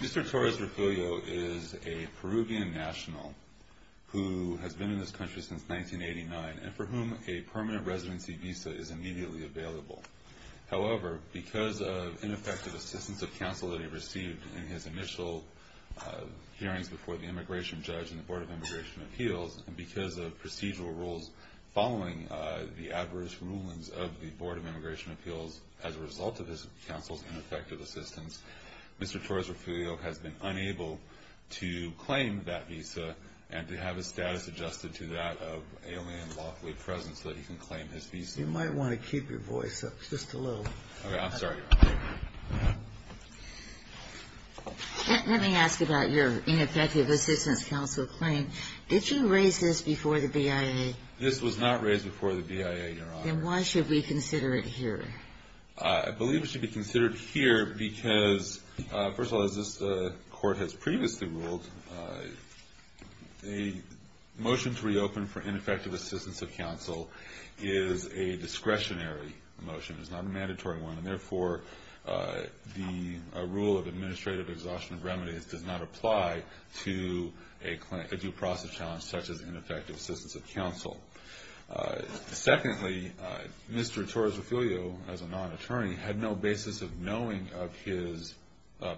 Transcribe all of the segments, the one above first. Mr. Torres-Refulio is a Peruvian national who has been in this country since 1989 and for whom a permanent residency visa is immediately available. However, because of ineffective assistance of counsel that he received in his initial hearings before the Immigration Judge and the Board of Immigration Appeals, and because of procedural rules following the adverse rulings of the Board of Immigration Appeals as a result of his counsel's ineffective assistance, Mr. Torres-Refulio has been unable to claim that visa and to have his status adjusted to that of alien lawfully present so that he can claim his visa. Let me ask about your ineffective assistance counsel claim. Did you raise this before the BIA? This was not raised before the BIA, Your Honor. Then why should we consider it here? I believe it should be considered here because, first of all, as this Court has previously ruled, a motion to reopen for ineffective assistance of counsel is a discretionary motion. It's not a mandatory one and, therefore, the rule of administrative exhaustion of remedies does not apply to a due process challenge such as ineffective assistance of counsel. Secondly, Mr. Torres-Refulio, as a non-attorney, had no basis of knowing of his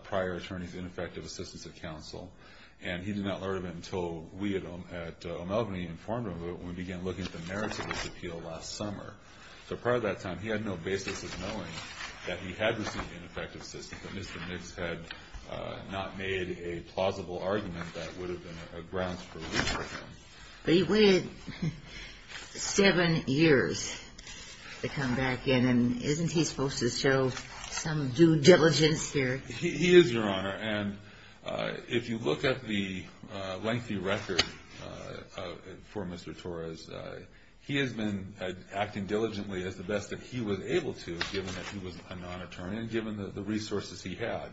prior attorney's ineffective assistance of counsel, and he did not learn of it until we at O'Malgany informed him of it when we began looking at the merits of his appeal last summer. So part of that time he had no basis of knowing that he had received ineffective assistance, that Mr. Nix had not made a plausible argument that would have been a grounds for re-appeal. But he waited seven years to come back in, and isn't he supposed to show some due diligence here? He is, Your Honor, and if you look at the lengthy record for Mr. Torres, he has been acting diligently as the best that he was able to, given that he was a non-attorney and given the resources he had.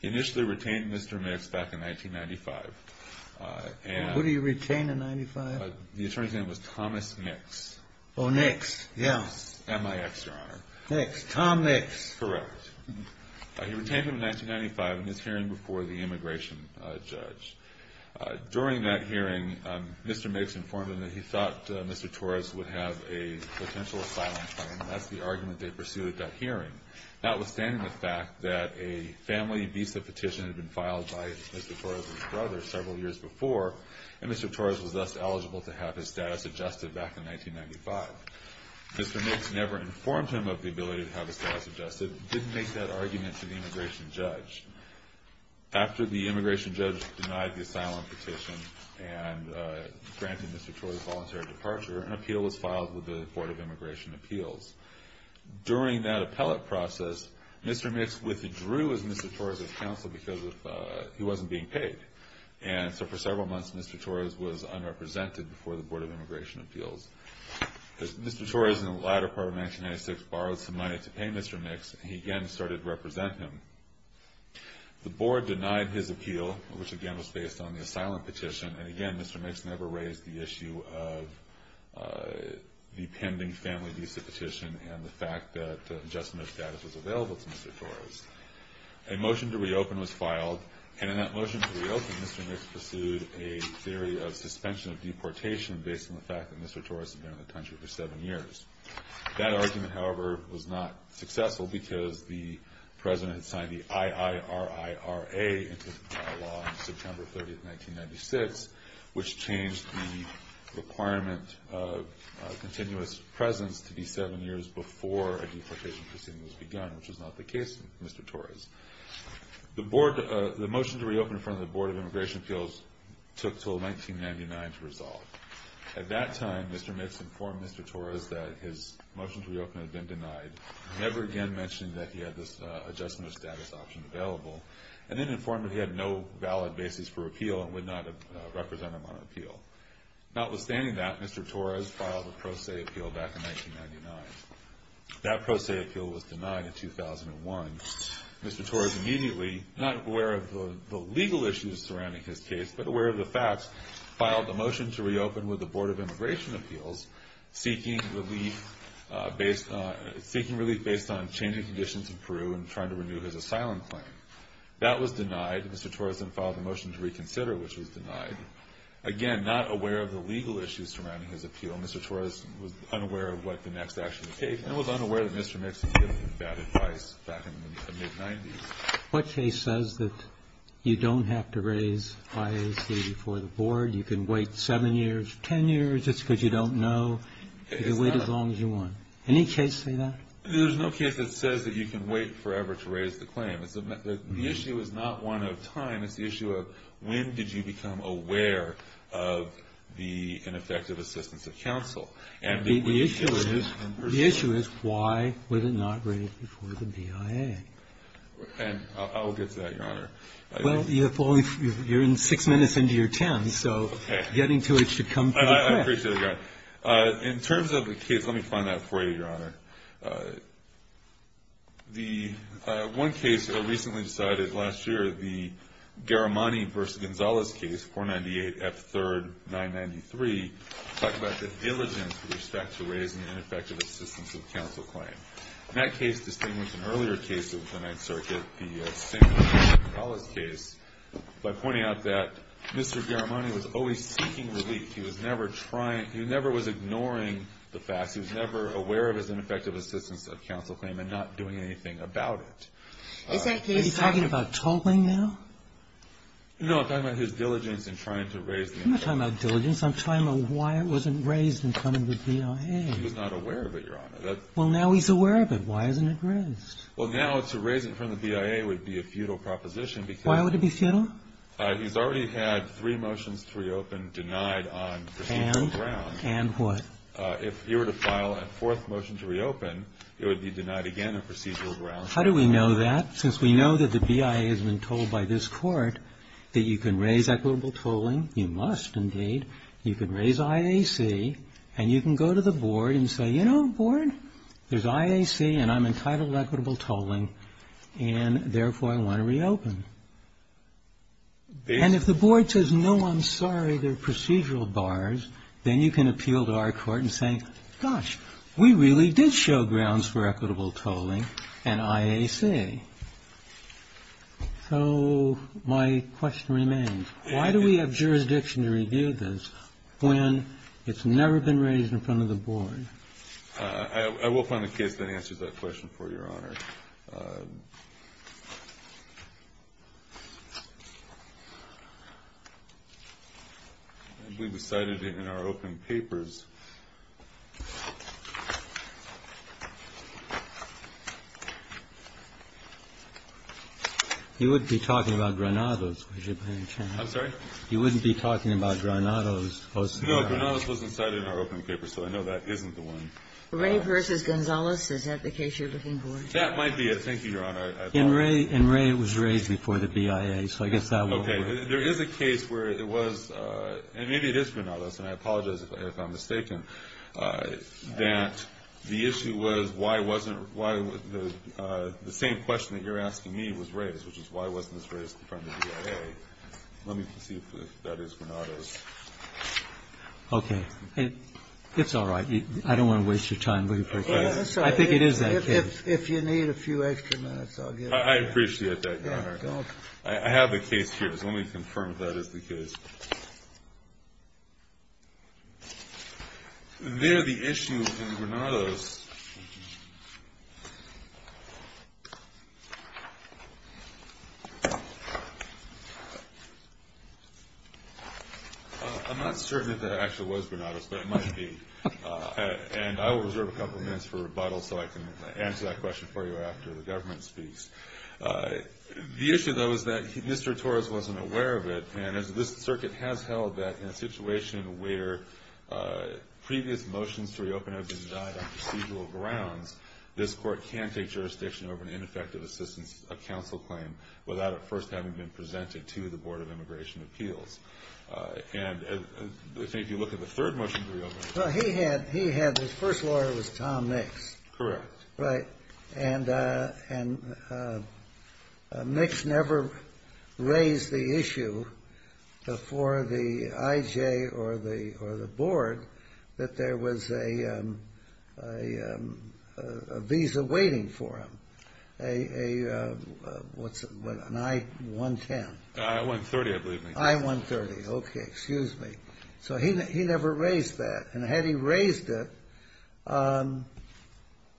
He initially retained Mr. Nix back in 1995. Who did he retain in 1995? The attorney's name was Thomas Nix. Oh, Nix, yes. M-I-X, Your Honor. Nix, Tom Nix. Nix, correct. He retained him in 1995 in his hearing before the immigration judge. During that hearing, Mr. Nix informed him that he thought Mr. Torres would have a potential asylum claim, and that's the argument they pursued at that hearing, notwithstanding the fact that a family visa petition had been filed by Mr. Torres' brother several years before, and Mr. Torres was thus eligible to have his status adjusted back in 1995. Mr. Nix never informed him of the ability to have his status adjusted, didn't make that argument to the immigration judge. After the immigration judge denied the asylum petition and granted Mr. Torres voluntary departure, an appeal was filed with the Board of Immigration Appeals. During that appellate process, Mr. Nix withdrew as Mr. Torres' counsel because he wasn't being paid, and so for several months, Mr. Torres was unrepresented before the Board of Immigration Appeals. Mr. Torres, in the latter part of 1996, borrowed some money to pay Mr. Nix, and he again started to represent him. The Board denied his appeal, which again was based on the asylum petition, and again, Mr. Nix never raised the issue of the pending family visa petition and the fact that adjustment of status was available to Mr. Torres. A motion to reopen was filed, and in that motion to reopen, Mr. Nix pursued a theory of suspension of deportation based on the fact that Mr. Torres had been in the country for seven years. That argument, however, was not successful because the President had signed the IIRIRA into law on September 30, 1996, which changed the requirement of continuous presence to be seven years before a deportation proceeding was begun, which was not the case with Mr. Torres. The motion to reopen in front of the Board of Immigration Appeals took until 1999 to resolve. At that time, Mr. Nix informed Mr. Torres that his motion to reopen had been denied, never again mentioning that he had this adjustment of status option available, and then informed that he had no valid basis for appeal and would not represent him on appeal. Notwithstanding that, Mr. Torres filed a pro se appeal back in 1999. That pro se appeal was denied in 2001. Mr. Torres immediately, not aware of the legal issues surrounding his case, but aware of the facts, filed a motion to reopen with the Board of Immigration Appeals, seeking relief based on changing conditions in Peru and trying to renew his asylum claim. That was denied. Mr. Torres then filed a motion to reconsider, which was denied. Again, not aware of the legal issues surrounding his appeal, Mr. Torres was unaware of what the next action would take and was unaware that Mr. Nix had given him bad advice back in the mid-90s. What case says that you don't have to raise IAC before the Board, you can wait seven years, ten years, it's because you don't know, you can wait as long as you want? Any case say that? There's no case that says that you can wait forever to raise the claim. The issue is not one of time, it's the issue of when did you become aware of the ineffective assistance of counsel. The issue is why would it not raise before the BIA? And I'll get to that, Your Honor. Well, you're in six minutes into your ten, so getting to it should come pretty quick. I appreciate that. In terms of the case, let me find that for you, Your Honor. The one case that was recently decided last year, the Garamani v. Gonzalez case, 498 F. 3rd, 993, talked about the diligence with respect to raising the ineffective assistance of counsel claim. In that case, distinguished from earlier cases of the Ninth Circuit, the Sinclair v. Gonzalez case, by pointing out that Mr. Garamani was always seeking relief, he was never trying, he never was ignoring the facts, he was never aware of his ineffective assistance of counsel claim and not doing anything about it. Is he talking about tolling now? No, I'm talking about his diligence in trying to raise the claim. I'm not talking about diligence. I'm talking about why it wasn't raised in front of the BIA. He was not aware of it, Your Honor. Well, now he's aware of it. Why isn't it raised? Well, now to raise it in front of the BIA would be a futile proposition because Why would it be futile? He's already had three motions to reopen denied on procedural grounds. And? And what? If he were to file a fourth motion to reopen, it would be denied again on procedural grounds. How do we know that? Since we know that the BIA has been told by this Court that you can raise equitable tolling, you must indeed, you can raise IAC, and you can go to the board and say, you know, board, there's IAC and I'm entitled to equitable tolling, and therefore I want to reopen. And if the board says, no, I'm sorry, they're procedural bars, then you can appeal to our court and say, gosh, we really did show grounds for equitable tolling and IAC. Okay. So my question remains, why do we have jurisdiction to review this when it's never been raised in front of the board? I will find a case that answers that question for you, Your Honor. I believe it's cited in our open papers. You wouldn't be talking about Granados, would you, by any chance? I'm sorry? You wouldn't be talking about Granados post-Granados? No. Granados wasn't cited in our open papers, so I know that isn't the one. Ray versus Gonzales, is that the case you're looking for? That might be it. Thank you, Your Honor. And Ray was raised before the BIA, so I guess that will work. Okay. There is a case where it was, and maybe it is Granados, and I apologize if I'm mistaken, that the issue was why wasn't the same question that you're asking me was raised, which is why wasn't this raised in front of the BIA. Let me see if that is Granados. Okay. It's all right. I don't want to waste your time looking for a case. I think it is that case. If you need a few extra minutes, I'll get it. I appreciate that, Your Honor. I have the case here, so let me confirm if that is the case. There the issue in Granados. I'm not certain if that actually was Granados, but it might be. And I will reserve a couple minutes for rebuttal so I can answer that question for you after the government speaks. The issue, though, is that Mr. Torres wasn't aware of it, and this circuit has held that in a situation where previous motions to reopen have been died on procedural grounds, this court can take jurisdiction over an ineffective assistance of counsel claim without it first having been presented to the Board of Immigration Appeals. And I think if you look at the third motion to reopen. Well, he had his first lawyer was Tom Nix. Correct. Right. And Nix never raised the issue for the IJ or the Board that there was a visa waiting for him, an I-110. I-130, I believe. I-130. Okay. Excuse me. So he never raised that. And had he raised it,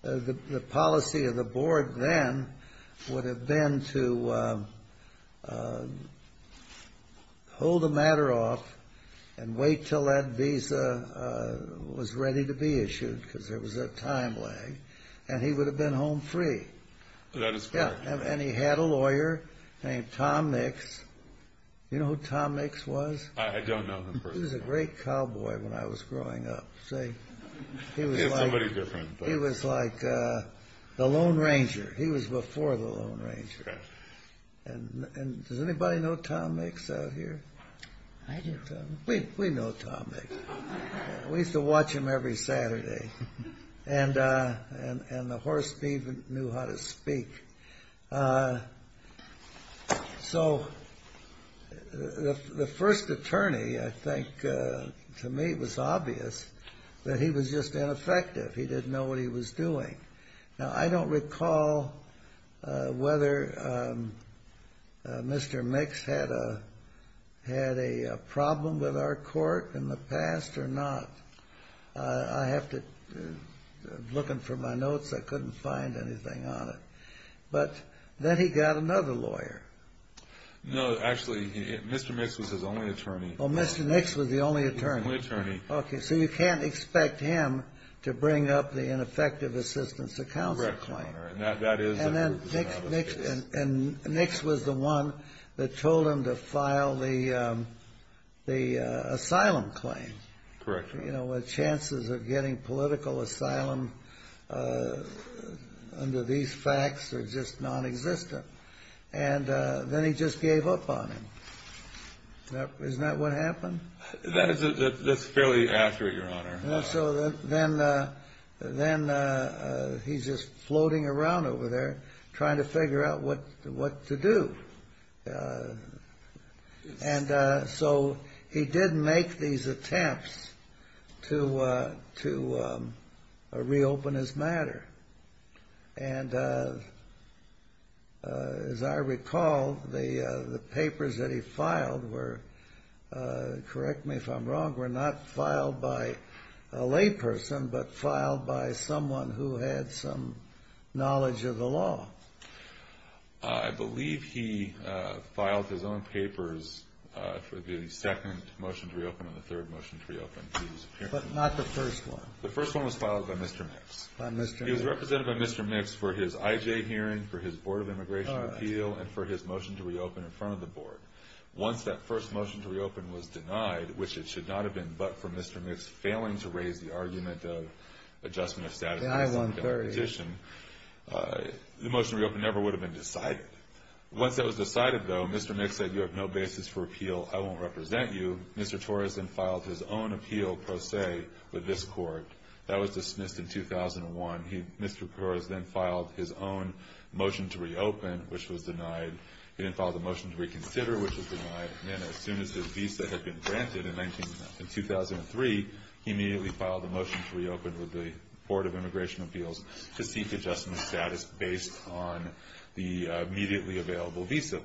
the policy of the board then would have been to hold the matter off and wait until that visa was ready to be issued because there was a time lag, and he would have been home free. That is correct. And he had a lawyer named Tom Nix. You know who Tom Nix was? I don't know him personally. He was a great cowboy when I was growing up. He was somebody different. He was like the Lone Ranger. He was before the Lone Ranger. Correct. And does anybody know Tom Nix out here? I do. We know Tom Nix. We used to watch him every Saturday. And the horse even knew how to speak. So the first attorney, I think, to me it was obvious that he was just ineffective. He didn't know what he was doing. Now, I don't recall whether Mr. Nix had a problem with our court in the past or not. I have to, looking for my notes, I couldn't find anything on it. But then he got another lawyer. No, actually, Mr. Nix was his only attorney. Oh, Mr. Nix was the only attorney. The only attorney. Okay, so you can't expect him to bring up the ineffective assistance to counsel claim. Correct, Your Honor. And then Nix was the one that told him to file the asylum claim. Correct, Your Honor. You know, chances of getting political asylum under these facts are just nonexistent. And then he just gave up on him. Isn't that what happened? That's fairly accurate, Your Honor. So then he's just floating around over there trying to figure out what to do. And so he did make these attempts to reopen his matter. And as I recall, the papers that he filed were, correct me if I'm wrong, were not filed by a layperson but filed by someone who had some knowledge of the law. I believe he filed his own papers for the second motion to reopen and the third motion to reopen. But not the first one. The first one was filed by Mr. Nix. By Mr. Nix. He was represented by Mr. Nix for his IJ hearing, for his Board of Immigration appeal, and for his motion to reopen in front of the Board. Once that first motion to reopen was denied, which it should not have been but for Mr. Nix for just failing to raise the argument of adjustment of status quo. The motion to reopen never would have been decided. Once that was decided, though, Mr. Nix said, you have no basis for appeal, I won't represent you. Mr. Torres then filed his own appeal pro se with this court. That was dismissed in 2001. Mr. Torres then filed his own motion to reopen, which was denied. He then filed a motion to reconsider, which was denied. As soon as his visa had been granted in 2003, he immediately filed a motion to reopen with the Board of Immigration Appeals to seek adjustment of status based on the immediately available visa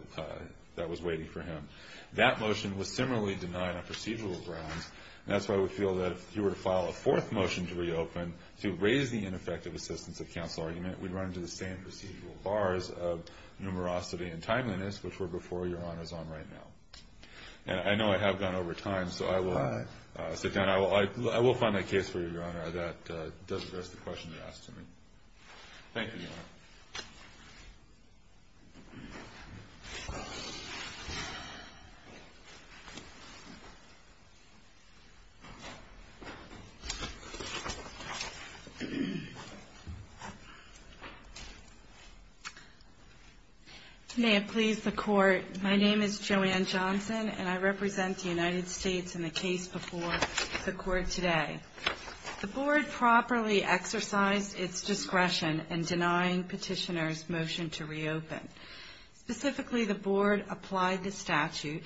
that was waiting for him. That motion was similarly denied on procedural grounds, and that's why we feel that if he were to file a fourth motion to reopen to raise the ineffective assistance of counsel argument, we'd run into the same procedural bars of numerosity and timeliness, which were before Your Honor is on right now. I know I have gone over time, so I will sit down. I will find a case for you, Your Honor, that does address the question you asked of me. Thank you, Your Honor. May it please the Court, my name is Joanne Johnson, and I represent the United States in the case before the Court today. The Board properly exercised its discretion in denying Petitioner's motion to reopen. Specifically, the Board applied the statute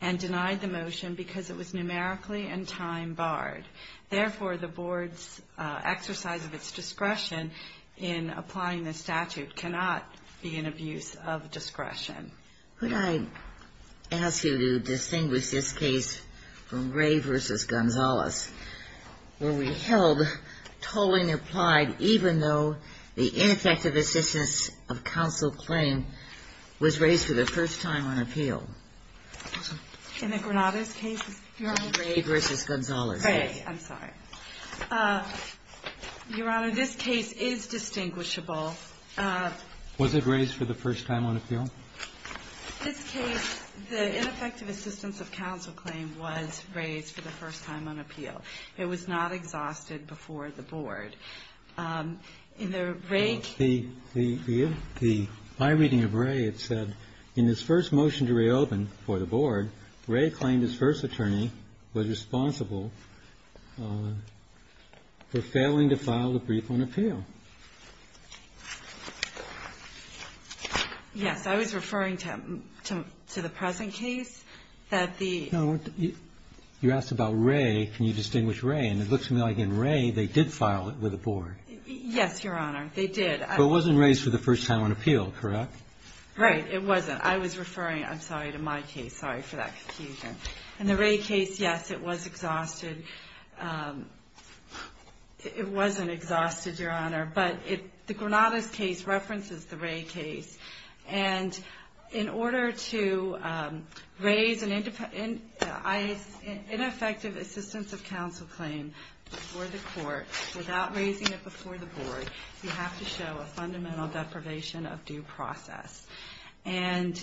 and denied the motion because it was numerically and time barred. Therefore, the Board's exercise of its discretion in applying the statute cannot be an abuse of discretion. Could I ask you to distinguish this case from Gray v. Gonzalez, where we held tolling applied even though the ineffective assistance of counsel claim was raised for the first time on appeal? In the Granada's case, Your Honor? Gray v. Gonzalez. Gray, I'm sorry. Your Honor, this case is distinguishable. Was it raised for the first time on appeal? This case, the ineffective assistance of counsel claim was raised for the first time on appeal. It was not exhausted before the Board. In the Rae case. In my reading of Rae, it said, In this first motion to reopen for the Board, Rae claimed his first attorney was responsible for failing to file the brief on appeal. Yes. I was referring to the present case that the. No. You asked about Rae. Can you distinguish Rae? And it looks to me like in Rae, they did file it with the Board. Yes, Your Honor. They did. But it wasn't raised for the first time on appeal, correct? Right. It wasn't. I was referring, I'm sorry, to my case. Sorry for that confusion. In the Rae case, yes, it was exhausted. It wasn't exhausted, Your Honor. But the Granada's case references the Rae case. And in order to raise an ineffective assistance of counsel claim before the Court, without raising it before the Board, you have to show a fundamental deprivation of due process. And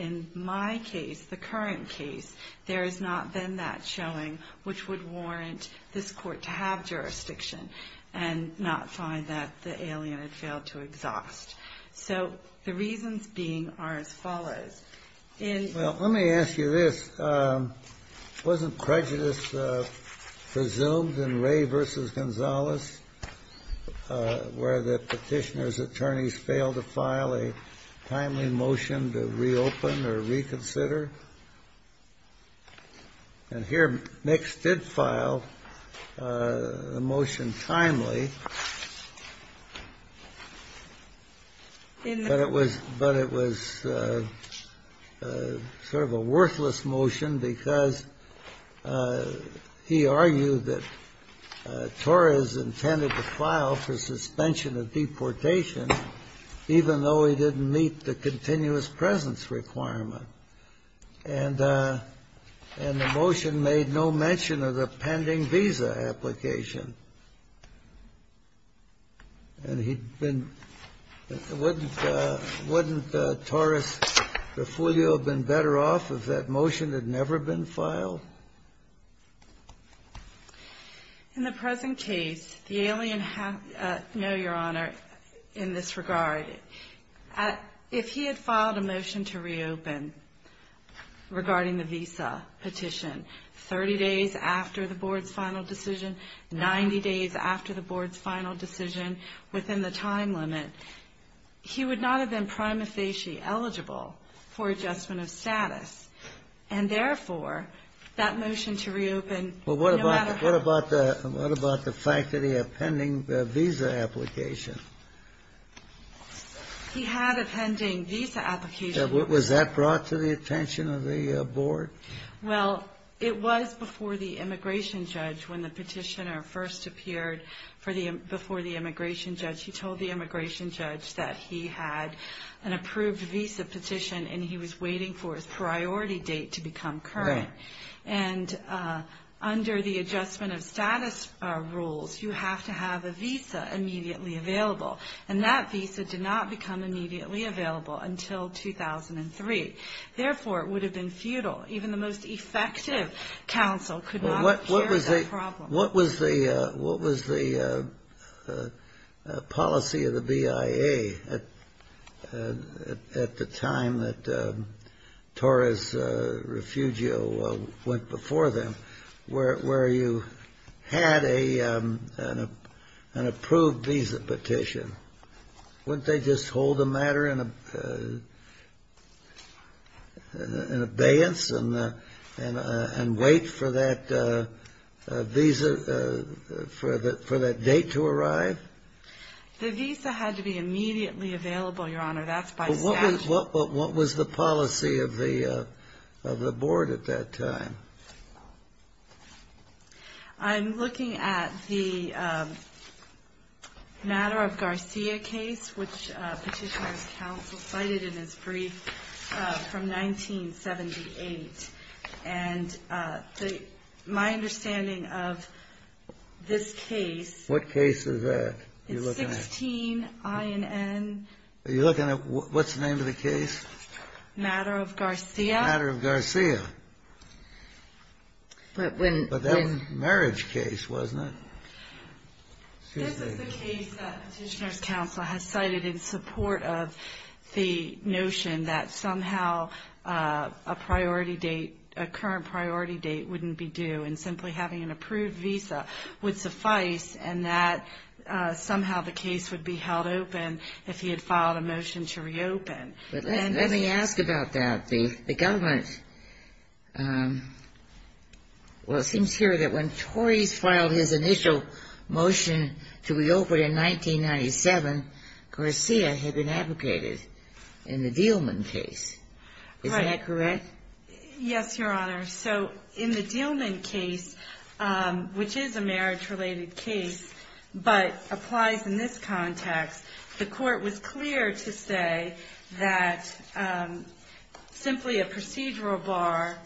in my case, the current case, there has not been that showing, which would warrant this Court to have jurisdiction and not find that the alien had failed to exhaust. Well, let me ask you this. Wasn't prejudice presumed in Rae v. Gonzalez, where the Petitioner's attorneys failed to file a timely motion to reopen or reconsider? And here, Nix did file a motion timely. But it was sort of a worthless motion because he argued that Torres intended to file for suspension of deportation, even though he didn't meet the continuous presence requirement. And the motion made no mention of the pending visa application. And he'd been, wouldn't Torres-Refugio have been better off if that motion had never been filed? In the present case, the alien, no, Your Honor, in this regard, if he had filed a motion to reopen regarding the visa petition 30 days after the Board's final decision, 90 days after the Board's final decision, within the time limit, he would not have been prima facie eligible for adjustment of status. And therefore, that motion to reopen, no matter how... Well, what about the fact that he had pending visa application? He had a pending visa application. Was that brought to the attention of the Board? Well, it was before the Immigration Judge, when the Petitioner first appeared before the Immigration Judge. He told the Immigration Judge that he had an approved visa petition and he was waiting for his priority date to become current. And under the adjustment of status rules, you have to have a visa immediately available. And that visa did not become immediately available until 2003. Therefore, it would have been futile. Even the most effective counsel could not share that problem. What was the policy of the BIA at the time that Torres-Refugio went before them, where you had an approved visa petition? Wouldn't they just hold the matter in abeyance and wait for that date to arrive? The visa had to be immediately available, Your Honor. That's by statute. What was the policy of the Board at that time? I'm looking at the Matter of Garcia case, which Petitioner's counsel cited in his brief from 1978. And my understanding of this case... What case is that? It's 16 INN... What's the name of the case? Matter of Garcia. Matter of Garcia. But that was a marriage case, wasn't it? This is the case that Petitioner's counsel has cited in support of the notion that somehow a current priority date wouldn't be due and simply having an approved visa would suffice and that somehow the case would be held open if he had filed a motion to reopen. Let me ask about that. The government... Well, it seems here that when Torres filed his initial motion to reopen in 1997, Garcia had been advocated in the Dealman case. Is that correct? Yes, Your Honor. So in the Dealman case, which is a marriage-related case but applies in this context, the court was clear to say that simply a procedural bar...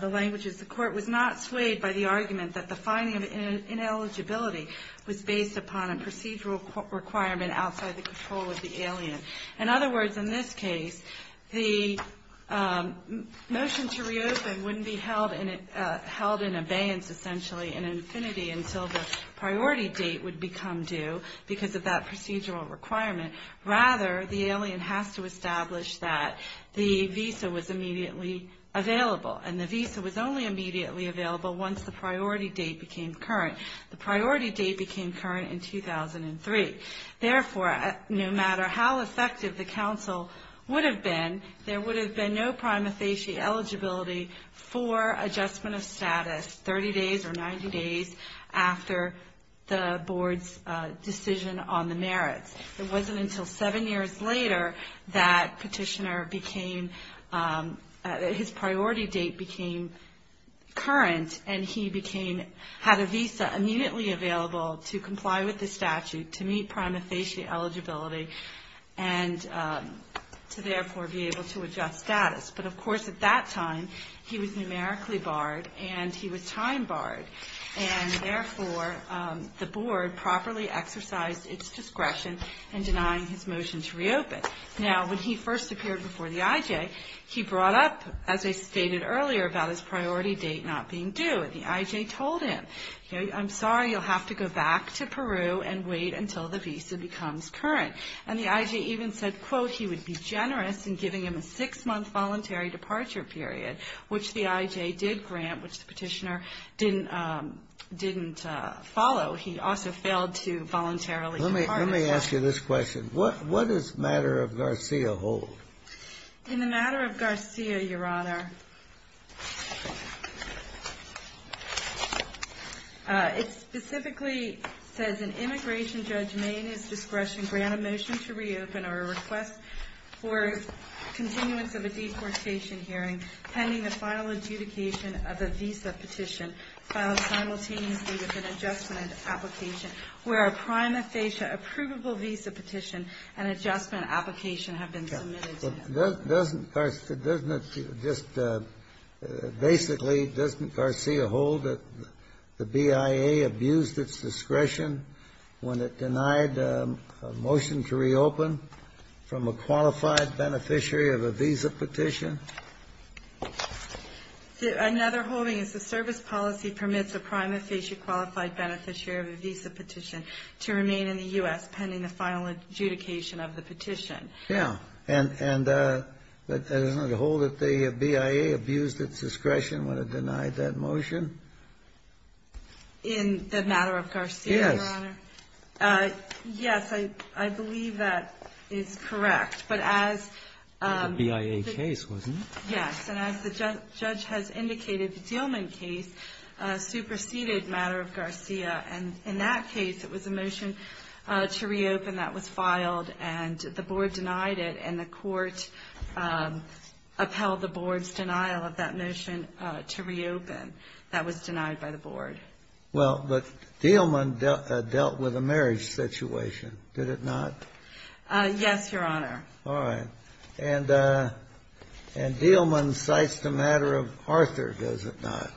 The language is the court was not swayed by the argument that the finding of ineligibility was based upon a procedural requirement outside the control of the alien. In other words, in this case, the motion to reopen wouldn't be held in abeyance essentially in infinity until the priority date would become due because of that procedural requirement. Rather, the alien has to establish that the visa was immediately available and the visa was only immediately available once the priority date became current. The priority date became current in 2003. Therefore, no matter how effective the counsel would have been, there would have been no prima facie eligibility for adjustment of status 30 days or 90 days after the board's decision on the merits. It wasn't until seven years later that petitioner became... His priority date became current and he had a visa immediately available to comply with the statute, to meet prima facie eligibility, and to therefore be able to adjust status. But of course, at that time, he was numerically barred and he was time barred. And therefore, the board properly exercised its discretion in denying his motion to reopen. Now, when he first appeared before the IJ, he brought up, as I stated earlier, about his priority date not being due. The IJ told him, I'm sorry, you'll have to go back to Peru and wait until the visa becomes current. And the IJ even said, quote, he would be generous in giving him a six-month voluntary departure period, which the IJ did grant, which the petitioner didn't follow. He also failed to voluntarily depart. Let me ask you this question. What does the matter of Garcia hold? In the matter of Garcia, Your Honor, it specifically says an immigration judge may, in his discretion, grant a motion to reopen or a request for continuance of a deportation hearing pending the final adjudication of a visa petition filed simultaneously with an adjustment application where a prima facie approvable visa petition and adjustment application have been submitted to him. Doesn't Garcia, doesn't it just basically, doesn't Garcia hold that the BIA abused its discretion when it denied a motion to reopen from a qualified beneficiary of a visa petition? Another holding is the service policy permits a prima facie qualified beneficiary of a visa petition to remain in the U.S. pending the final adjudication of the petition. Yeah. And doesn't it hold that the BIA abused its discretion when it denied that motion? In the matter of Garcia, Your Honor? Yes. Yes, I believe that is correct. But as the judge has indicated the Dillman case superseded matter of Garcia. And in that case it was a motion to reopen that was filed and the board denied it and the court upheld the board's denial of that motion to reopen. That was denied by the board. Well, but Dillman dealt with a marriage situation, did it not? Yes, Your Honor. All right. And Dillman cites the matter of Arthur, does it not?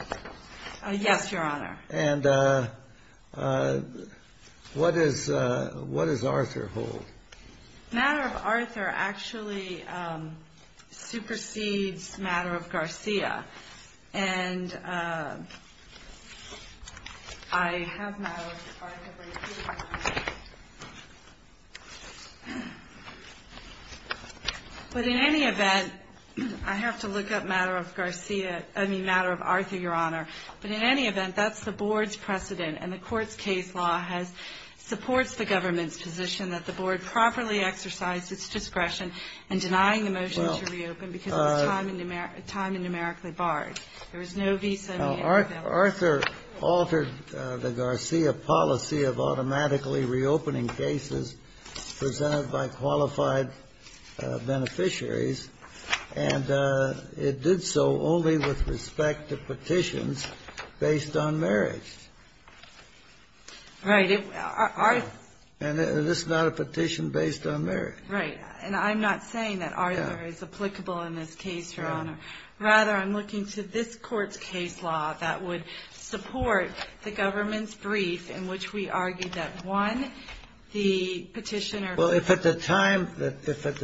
Yes, Your Honor. And what does Arthur hold? Matter of Arthur actually supersedes matter of Garcia. And I have matter of Garcia. But in any event, I have to look up matter of Garcia, I mean matter of Arthur, Your Honor. But in any event, that's the board's precedent. And the court's case law supports the government's position that the board properly exercised its discretion in denying the motion to reopen because it was time and numerically barred. There was no visa. Arthur altered the Garcia policy of automatically reopening cases presented by qualified beneficiaries. And it did so only with respect to petitions based on marriage. Right. And this is not a petition based on marriage. Right. And I'm not saying that Arthur is applicable in this case, Your Honor. Rather, I'm looking to this court's case law that would support the government's brief in which we argued that, one, the petitioner Well, if at the time Mr.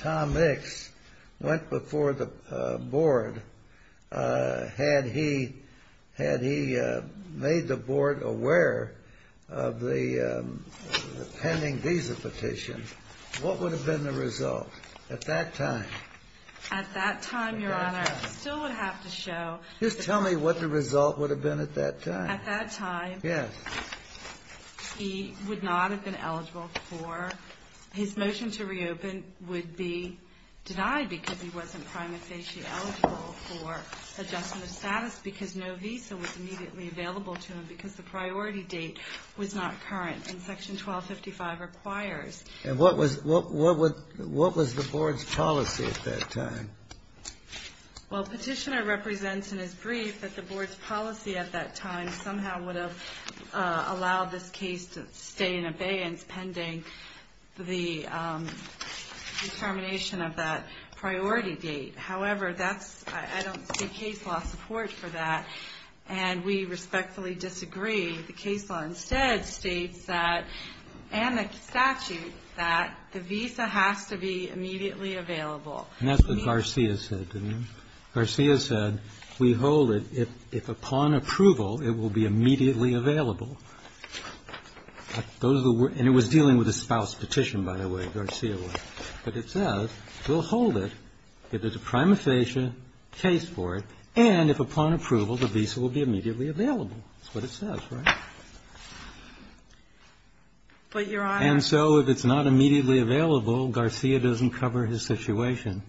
Tom Ickes went before the board, had he made the board aware of the pending visa petition, what would have been the result at that time? At that time, Your Honor, I still would have to show Just tell me what the result would have been at that time. At that time, he would not have been eligible for His motion to reopen would be denied because he wasn't prima facie eligible for adjustment of status because no visa was immediately available to him because the priority date was not current. And Section 1255 requires And what was the board's policy at that time? Well, Petitioner represents in his brief that the board's policy at that time somehow would have allowed this case to stay in abeyance pending the determination of that priority date. However, I don't see case law support for that, and we respectfully disagree. The case law instead states that, and the statute, that the visa has to be immediately available. And that's what Garcia said, didn't it? Garcia said, we hold it. If upon approval, it will be immediately available. Those are the words. And it was dealing with a spouse petition, by the way, Garcia was. But it says we'll hold it if there's a prima facie case for it, and if upon approval, the visa will be immediately available. That's what it says, right? But, Your Honor If it's not immediately available, Garcia doesn't cover his situation.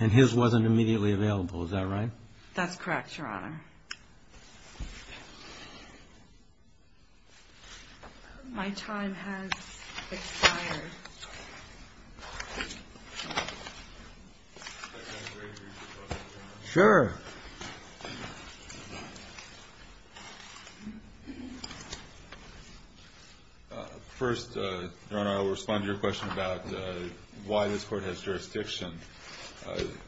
And his wasn't immediately available. Is that right? That's correct, Your Honor. My time has expired. Sure. First, Your Honor, I will respond to your question about why this court has jurisdiction.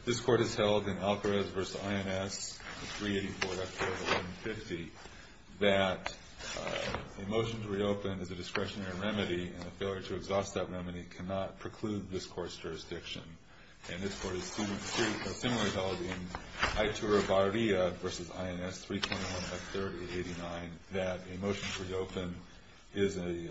This court has held in Alcarez v. INS 384.4 of 1150 that a motion to reopen is a discretionary remedy, and a failure to exhaust that remedy cannot preclude this court's jurisdiction. And this court has seen a similar result in Aitora Barria v. INS 321 of 389, that a motion to reopen is a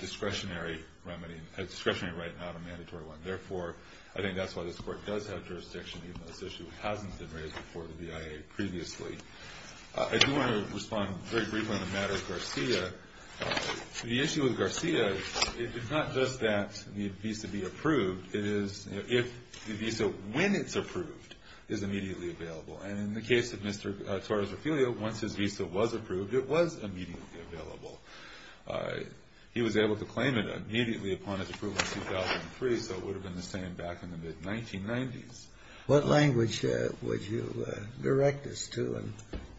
discretionary remedy, a discretionary right, not a mandatory one. Therefore, I think that's why this court does have jurisdiction, even though this issue hasn't been raised before the BIA previously. I do want to respond very briefly on the matter of Garcia. The issue with Garcia is not just that the visa be approved, it is if the visa, when it's approved, is immediately available. And in the case of Mr. Torres-Ofilio, once his visa was approved, it was immediately available. He was able to claim it immediately upon its approval in 2003, so it would have been the same back in the mid-1990s. What language would you direct us to in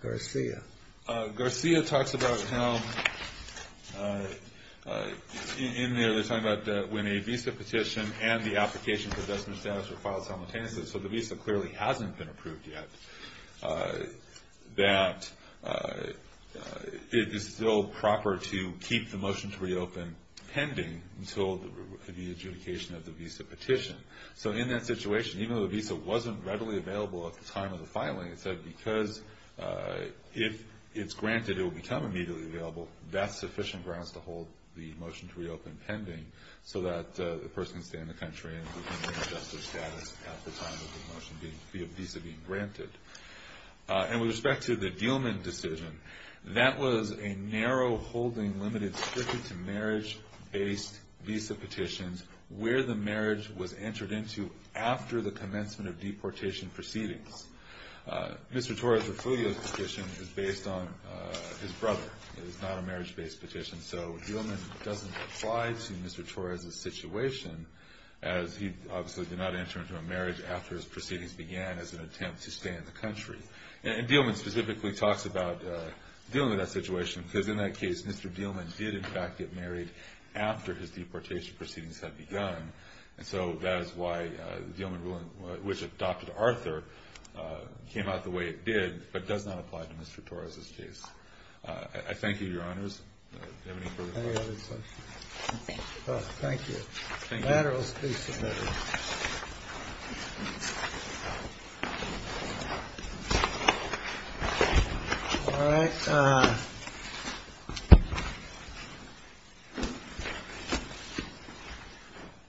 Garcia? Garcia talks about how in there they're talking about when a visa petition and the application for destination status are filed simultaneously, so the visa clearly hasn't been approved yet, that it is still proper to keep the motion to reopen pending until the adjudication of the visa petition. So in that situation, even though the visa wasn't readily available at the time of the filing, it said because if it's granted, it will become immediately available, that's sufficient grounds to hold the motion to reopen pending so that the person can stay in the country and retain their justice status at the time of the visa being granted. And with respect to the Diehlmann decision, that was a narrow holding limited strictly to marriage-based visa petitions where the marriage was entered into after the commencement of deportation proceedings. Mr. Torres' refugio petition is based on his brother. It is not a marriage-based petition, so Diehlmann doesn't apply to Mr. Torres' situation as he obviously did not enter into a marriage after his proceedings began as an attempt to stay in the country. And Diehlmann specifically talks about dealing with that situation because in that case, Mr. Diehlmann did, in fact, get married after his deportation proceedings had begun. And so that is why the Diehlmann ruling, which adopted Arthur, came out the way it did but does not apply to Mr. Torres' case. I thank you, Your Honors. Do you have any further questions? Thank you. Thank you. Laterals, please, Senator. Thank you. All right.